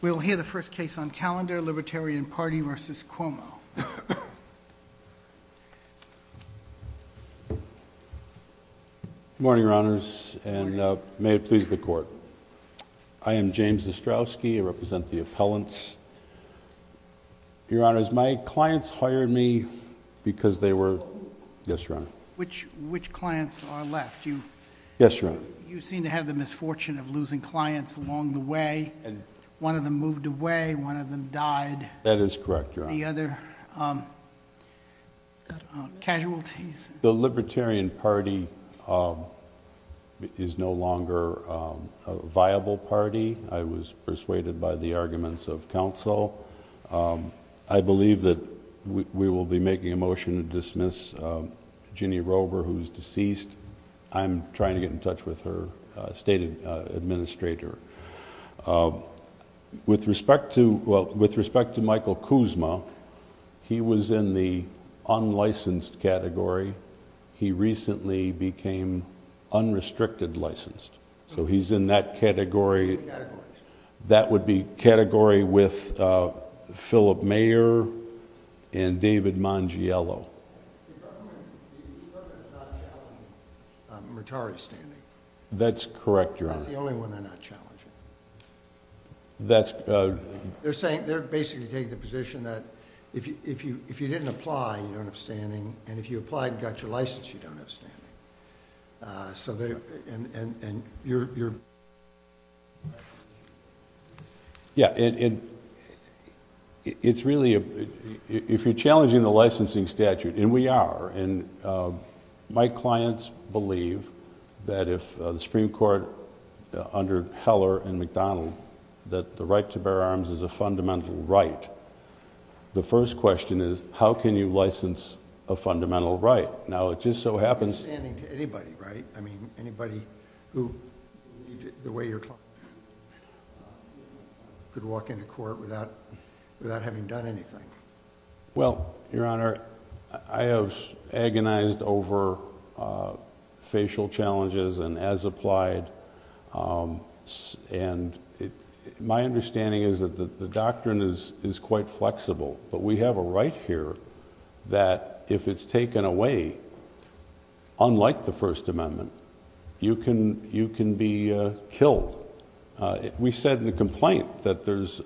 We'll hear the first case on calendar, Libertarian Party v. Cuomo. Good morning, Your Honors, and may it please the Court. I am James Zastrowski. I represent the appellants. Your Honors, my clients hired me because they were... Yes, Your Honor. Which clients are left? Yes, Your Honor. You seem to have the misfortune of losing clients along the way. One of them moved away, one of them died. That is correct, Your Honor. The other casualties... The Libertarian Party is no longer a viable party. I was persuaded by the arguments of counsel. I believe that we will be making a motion to dismiss Ginny Roeber, who is deceased. I'm trying to get in touch with her state administrator. With respect to Michael Kuzma, he was in the unlicensed category. He recently became unrestricted licensed. So he's in that category. What categories? That would be category with Philip Mayer and David Mangiello. The government is not challenging Murtari's standing. That's correct, Your Honor. That's the only one they're not challenging. They're basically taking the position that if you didn't apply, you don't have standing, and if you applied and got your license, you don't have standing. And you're... Yeah, and it's really... If you're challenging the licensing statute, and we are, and my clients believe that if the Supreme Court, under Heller and McDonnell, that the right to bear arms is a fundamental right, the first question is, how can you license a fundamental right? Now, it just so happens... Standing to anybody, right? I mean, anybody who... the way your client... could walk into court without having done anything. Well, Your Honor, I have agonized over facial challenges and as applied, and my understanding is that the doctrine is quite flexible, but we have a right here that if it's taken away, unlike the First Amendment, you can be killed. We said in the complaint that there's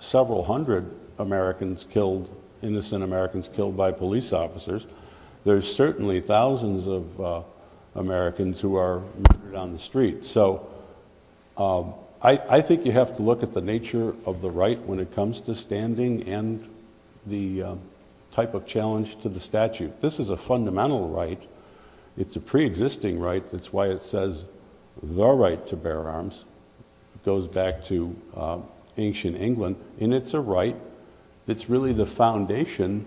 several hundred Americans killed, innocent Americans killed by police officers. There's certainly thousands of Americans who are murdered on the street. So, I think you have to look at the nature of the right when it comes to standing and the type of challenge to the statute. This is a fundamental right. It's a pre-existing right. That's why it says, the right to bear arms. It goes back to ancient England, and it's a right that's really the foundation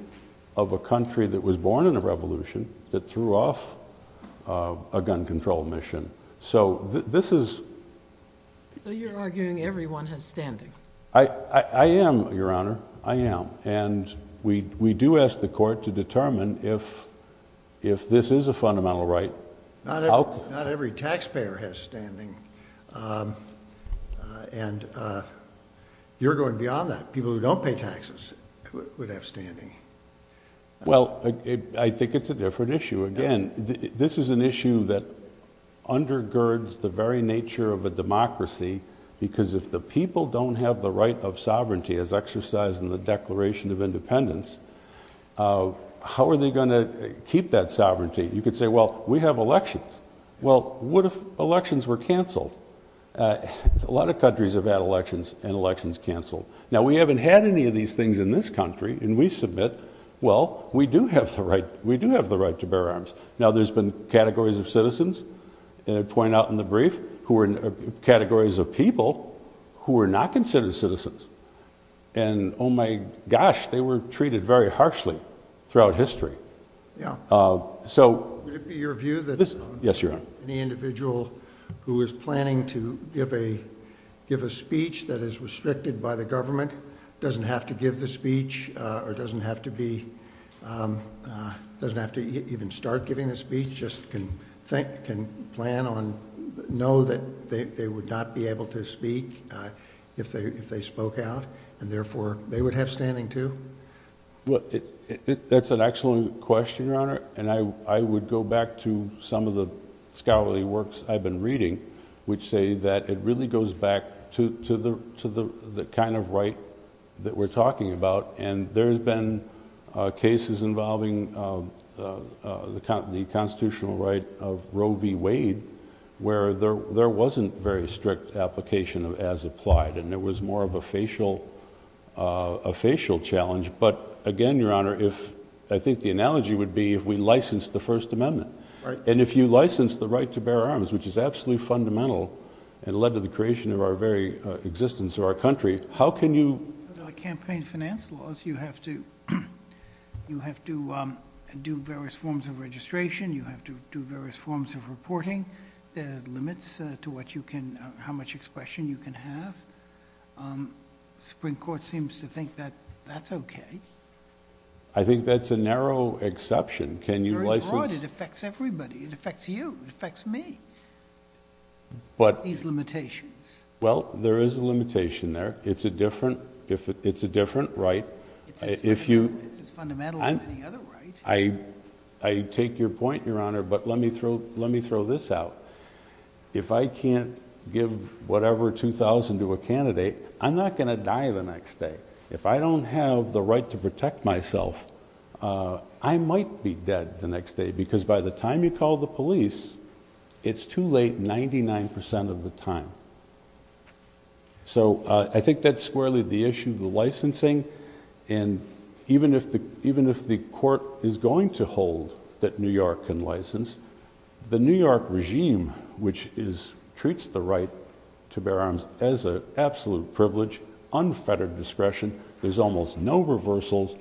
of a country that was born in a revolution that threw off a gun control mission. So, this is... So, you're arguing everyone has standing? I am, Your Honor. I am. And we do ask the court to determine if this is a fundamental right. Not every taxpayer has standing, and you're going beyond that. People who don't pay taxes would have standing. Well, I think it's a different issue. Again, this is an issue that undergirds the very nature of a democracy, because if the people don't have the right of sovereignty, as exercised in the Declaration of Independence, how are they going to keep that sovereignty? You could say, well, we have elections. Well, what if elections were canceled? A lot of countries have had elections, and elections canceled. Now, we haven't had any of these things in this country, and we submit, well, we do have the right to bear arms. Now, there's been categories of citizens, and I point out in the brief, categories of people who are not considered citizens. And, oh my gosh, they were treated very harshly throughout history. Would it be your view that any individual who is planning to give a speech that is restricted by the government doesn't have to give the speech or doesn't have to even start giving the speech, just can plan on, know that they would not be able to speak if they spoke out, and therefore, they would have standing too? That's an excellent question, Your Honor, and I would go back to some of the scholarly works I've been reading, which say that it really goes back to the kind of right that we're talking about, and there have been cases involving the constitutional right of Roe v. Wade, where there wasn't very strict application as applied, and there was more of a facial challenge. But, again, Your Honor, I think the analogy would be if we licensed the First Amendment, and if you license the right to bear arms, which is absolutely fundamental and led to the creation of our very existence of our country, how can you... Campaign finance laws, you have to do various forms of registration, you have to do various forms of reporting. There are limits to how much expression you can have. The Supreme Court seems to think that that's okay. I think that's a narrow exception. Can you license... Very broad. It affects everybody. It affects you. It affects me. These limitations. Well, there is a limitation there. It's a different right. It's as fundamental as any other right. I take your point, Your Honor, but let me throw this out. If I can't give whatever $2,000 to a candidate, I'm not going to die the next day. If I don't have the right to protect myself, I might be dead the next day, because by the time you call the police, it's too late 99% of the time. So I think that's squarely the issue of the licensing, and even if the court is going to hold that New York can license, the New York regime, which treats the right to bear arms as an absolute privilege, unfettered discretion, there's almost no reversals,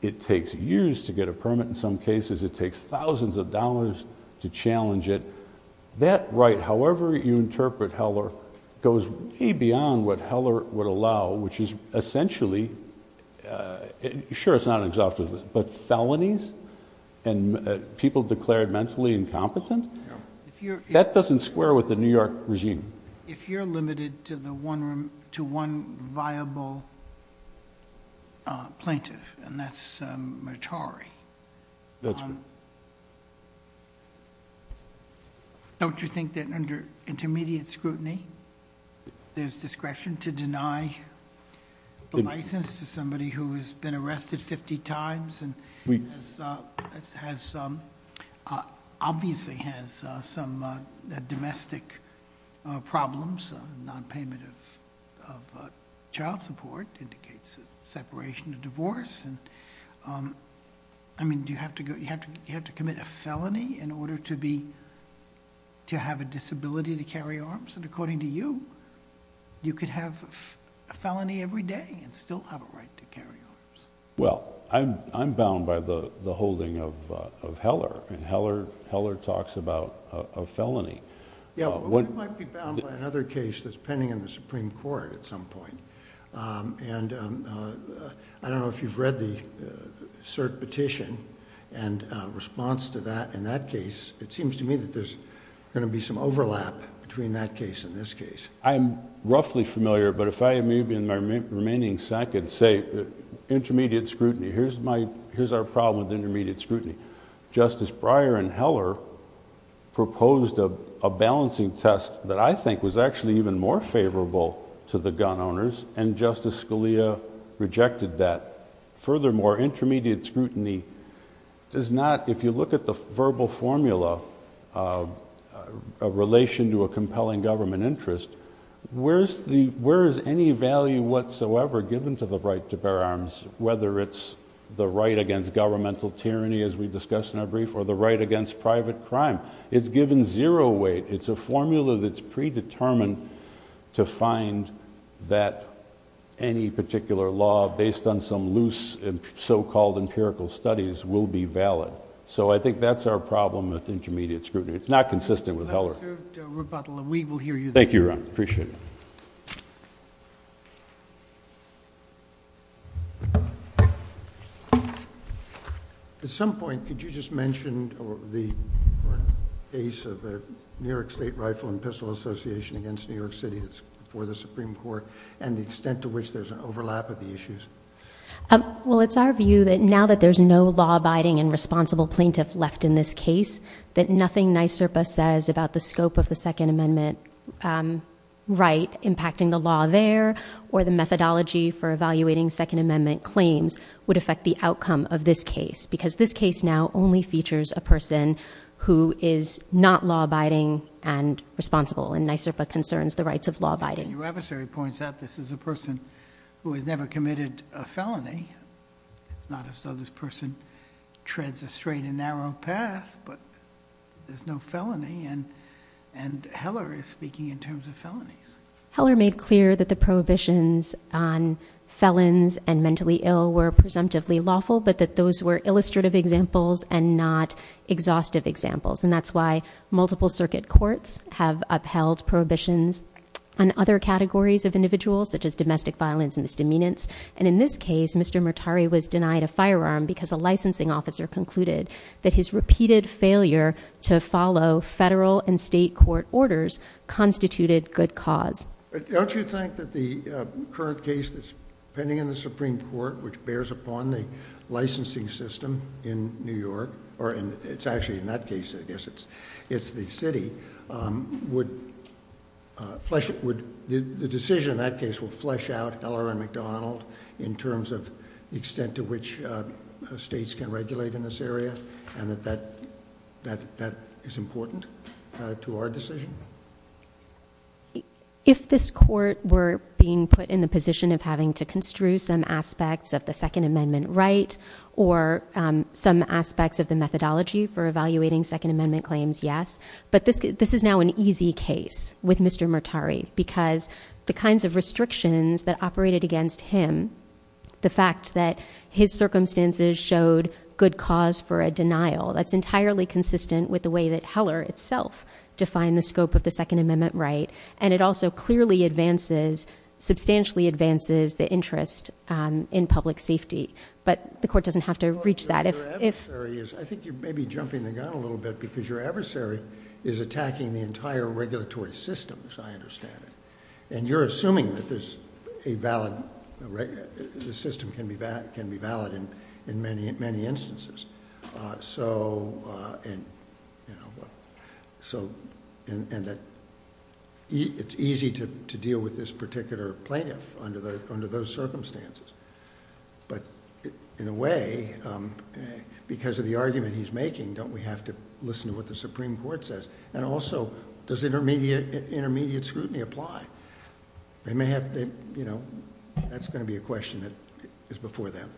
it takes years to get a permit in some cases, it takes thousands of dollars to challenge it, that right, however you interpret Heller, goes way beyond what Heller would allow, which is essentially, sure, it's not an exhaustive list, but felonies and people declared mentally incompetent? That doesn't square with the New York regime. If you're limited to one viable plaintiff, and that's Mattari... That's right. Don't you think that under intermediate scrutiny, there's discretion to deny the license to somebody who has been arrested 50 times, and obviously has some domestic problems, non-payment of child support, indicates separation or divorce, I mean, do you have to commit a felony in order to have a disability to carry arms? And according to you, you could have a felony every day and still have a right to carry arms. Well, I'm bound by the holding of Heller, and Heller talks about a felony. Yeah, but we might be bound by another case that's pending in the Supreme Court at some point, and I don't know if you've read the cert petition, and response to that in that case, it seems to me that there's going to be some overlap between that case and this case. I'm roughly familiar, but if I, maybe in my remaining seconds, say intermediate scrutiny. Here's our problem with intermediate scrutiny. Justice Breyer and Heller proposed a balancing test that I think was actually even more favorable to the gun owners, and Justice Scalia rejected that. Furthermore, intermediate scrutiny does not... Where is any value whatsoever given to the right to bear arms, whether it's the right against governmental tyranny, as we discussed in our brief, or the right against private crime? It's given zero weight. It's a formula that's predetermined to find that any particular law, based on some loose so-called empirical studies, will be valid. So I think that's our problem with intermediate scrutiny. It's not consistent with Heller. Thank you, Ron. Appreciate it. At some point, could you just mention the case of the New York State Rifle and Pistol Association against New York City that's before the Supreme Court, and the extent to which there's an overlap of the issues? Well, it's our view that now that there's no law-abiding and responsible plaintiff left in this case, that nothing NYSERPA says about the scope of the Second Amendment right impacting the law there, or the methodology for evaluating Second Amendment claims, would affect the outcome of this case, because this case now only features a person who is not law-abiding and responsible, and NYSERPA concerns the rights of law-abiding. Your adversary points out this is a person who has never committed a felony. It's not as though this person treads a straight and narrow path, but there's no felony, and Heller is speaking in terms of felonies. Heller made clear that the prohibitions on felons and mentally ill were presumptively lawful, but that those were illustrative examples and not exhaustive examples, and that's why multiple circuit courts have upheld prohibitions on other categories of individuals, such as domestic violence and misdemeanance, and in this case, Mr. Murtari was denied a firearm because a licensing officer concluded that his repeated failure to follow federal and state court orders constituted good cause. Don't you think that the current case that's pending in the Supreme Court, which bears upon the licensing system in New York, or it's actually in that case, I guess it's the city, the decision in that case would flesh out Heller and McDonald in terms of the extent to which states can regulate in this area, and that that is important to our decision? If this court were being put in the position of having to construe some aspects of the Second Amendment right or some aspects of the methodology for evaluating Second Amendment claims, yes, but this is now an easy case with Mr. Murtari because the kinds of restrictions that operated against him, the fact that his circumstances showed good cause for a denial, that's entirely consistent with the way that Heller itself defined the scope of the Second Amendment right, and it also clearly advances, substantially advances the interest in public safety, but the court doesn't have to reach that. I think you're maybe jumping the gun a little bit because your adversary is attacking the entire regulatory system, as I understand it, and you're assuming that the system can be valid in many instances, and that it's easy to deal with this particular plaintiff under those circumstances, but in a way, because of the argument he's making, don't we have to listen to what the Supreme Court says? And also, does intermediate scrutiny apply? That's going to be a question that is before them.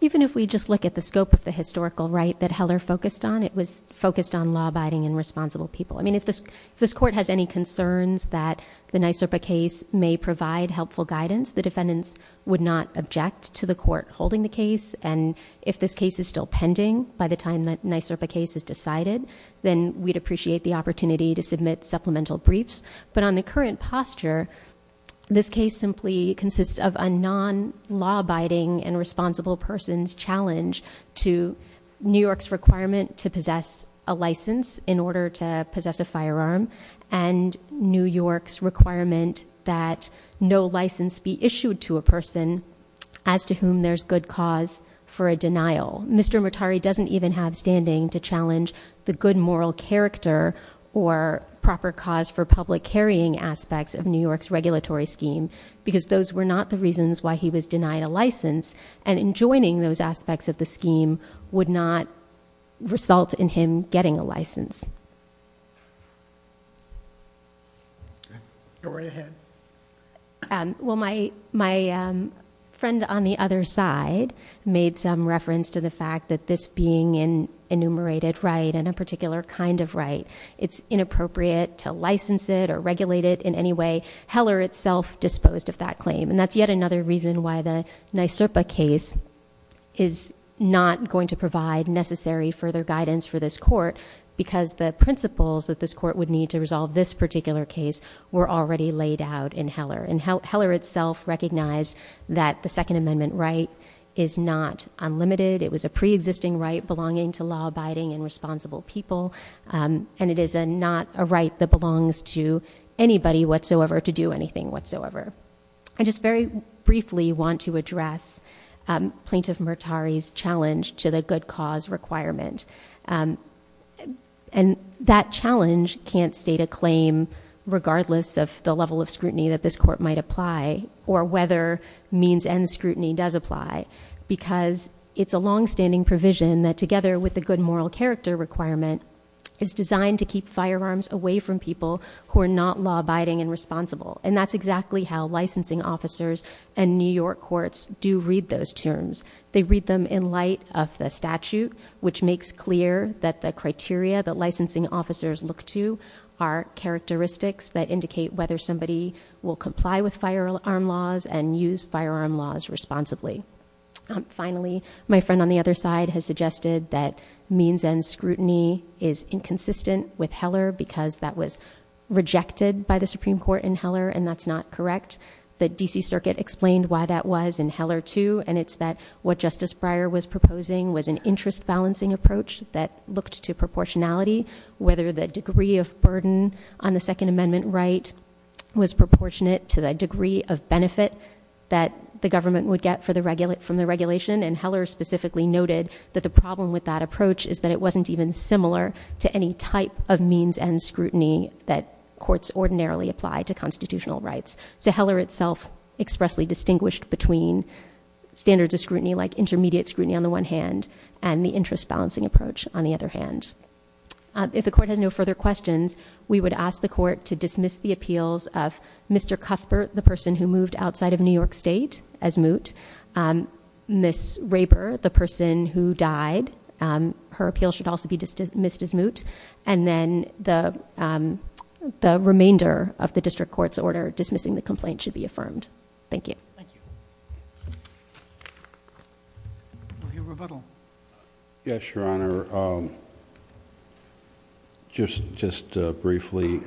Even if we just look at the scope of the historical right that Heller focused on, it was focused on law-abiding and responsible people. I mean, if this court has any concerns that the NYSRPA case may provide helpful guidance, the defendants would not object to the court holding the case, and if this case is still pending by the time that NYSRPA case is decided, then we'd appreciate the opportunity to submit supplemental briefs. But on the current posture, this case simply consists of a non-law-abiding and responsible person's challenge to New York's requirement to possess a license in order to possess a firearm, and New York's requirement that no license be issued to a person as to whom there's good cause for a denial. Mr. Mutari doesn't even have standing to challenge the good moral character or proper cause for public carrying aspects of New York's regulatory scheme, because those were not the reasons why he was denied a license. And enjoining those aspects of the scheme would not result in him getting a license. Go right ahead. Well, my friend on the other side made some reference to the fact that this being an enumerated right and a particular kind of right, it's inappropriate to license it or regulate it in any way. Heller itself disposed of that claim, and that's yet another reason why the NYSRPA case is not going to provide necessary further guidance for this court, because the principles that this court would need to resolve this particular case were already laid out in Heller. And Heller itself recognized that the Second Amendment right is not unlimited. It was a pre-existing right belonging to law-abiding and responsible people. And it is not a right that belongs to anybody whatsoever to do anything whatsoever. I just very briefly want to address Plaintiff Mutari's challenge to the good cause requirement. And that challenge can't state a claim regardless of the level of scrutiny that this court might apply, or whether means and scrutiny does apply. Because it's a long-standing provision that together with the good moral character requirement is designed to keep firearms away from people who are not law-abiding and responsible. And that's exactly how licensing officers and New York courts do read those terms. They read them in light of the statute, which makes clear that the criteria that licensing officers look to are characteristics that indicate whether somebody will comply with firearm laws and use firearm laws responsibly. Finally, my friend on the other side has suggested that means and scrutiny is inconsistent with Heller, because that was rejected by the Supreme Court in Heller, and that's not correct. The D.C. Circuit explained why that was in Heller, too, and it's that what Justice Breyer was proposing was an interest-balancing approach that looked to proportionality, whether the degree of burden on the Second Amendment right was proportionate to the degree of benefit that the government would get from the regulation. And Heller specifically noted that the problem with that approach is that it wasn't even similar to any type of means and scrutiny that courts ordinarily apply to constitutional rights. So Heller itself expressly distinguished between standards of scrutiny like intermediate scrutiny on the one hand and the interest-balancing approach on the other hand. If the court has no further questions, we would ask the court to dismiss the appeals of Mr. Cuthbert, the person who moved outside of New York State as moot, Ms. Raper, the person who died. Her appeal should also be dismissed as moot. And then the remainder of the district court's order dismissing the complaint should be affirmed. Thank you. Thank you. Dr. Rebuttal. Yes, Your Honor. Just briefly,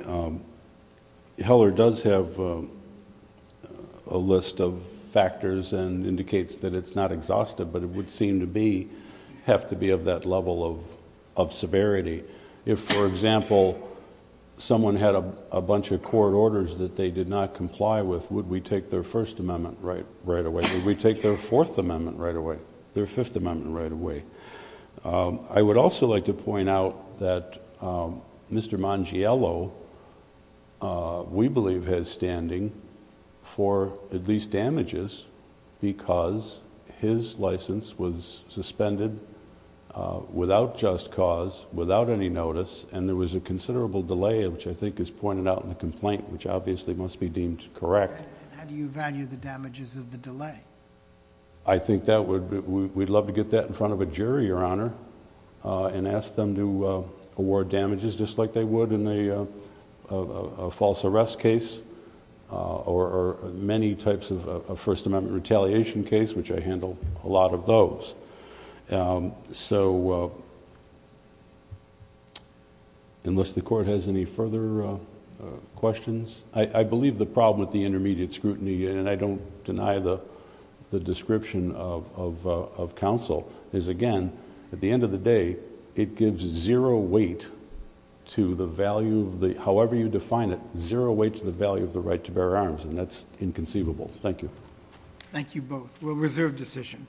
Heller does have a list of factors and indicates that it's not exhaustive, but it would seem to be, have to be of that level of severity. If, for example, someone had a bunch of court orders that they did not comply with, would we take their First Amendment right away? Would we take their Fourth Amendment right away? Their Fifth Amendment right away? I would also like to point out that Mr. Mangiello, we believe, has standing for at least damages because his license was suspended without just cause, without any notice, and there was a considerable delay, which I think is pointed out in the complaint, which obviously must be deemed correct. How do you value the damages of the delay? I think we'd love to get that in front of a jury, Your Honor, and ask them to award damages just like they would in a false arrest case or many types of First Amendment retaliation case, which I handle a lot of those. Unless the court has any further questions. I believe the problem with the intermediate scrutiny, and I don't deny the description of counsel, is again, at the end of the day, it gives zero weight to the value... However you define it, zero weight to the value of the right to bear arms, and that's inconceivable. Thank you. Thank you both. We'll reserve decision.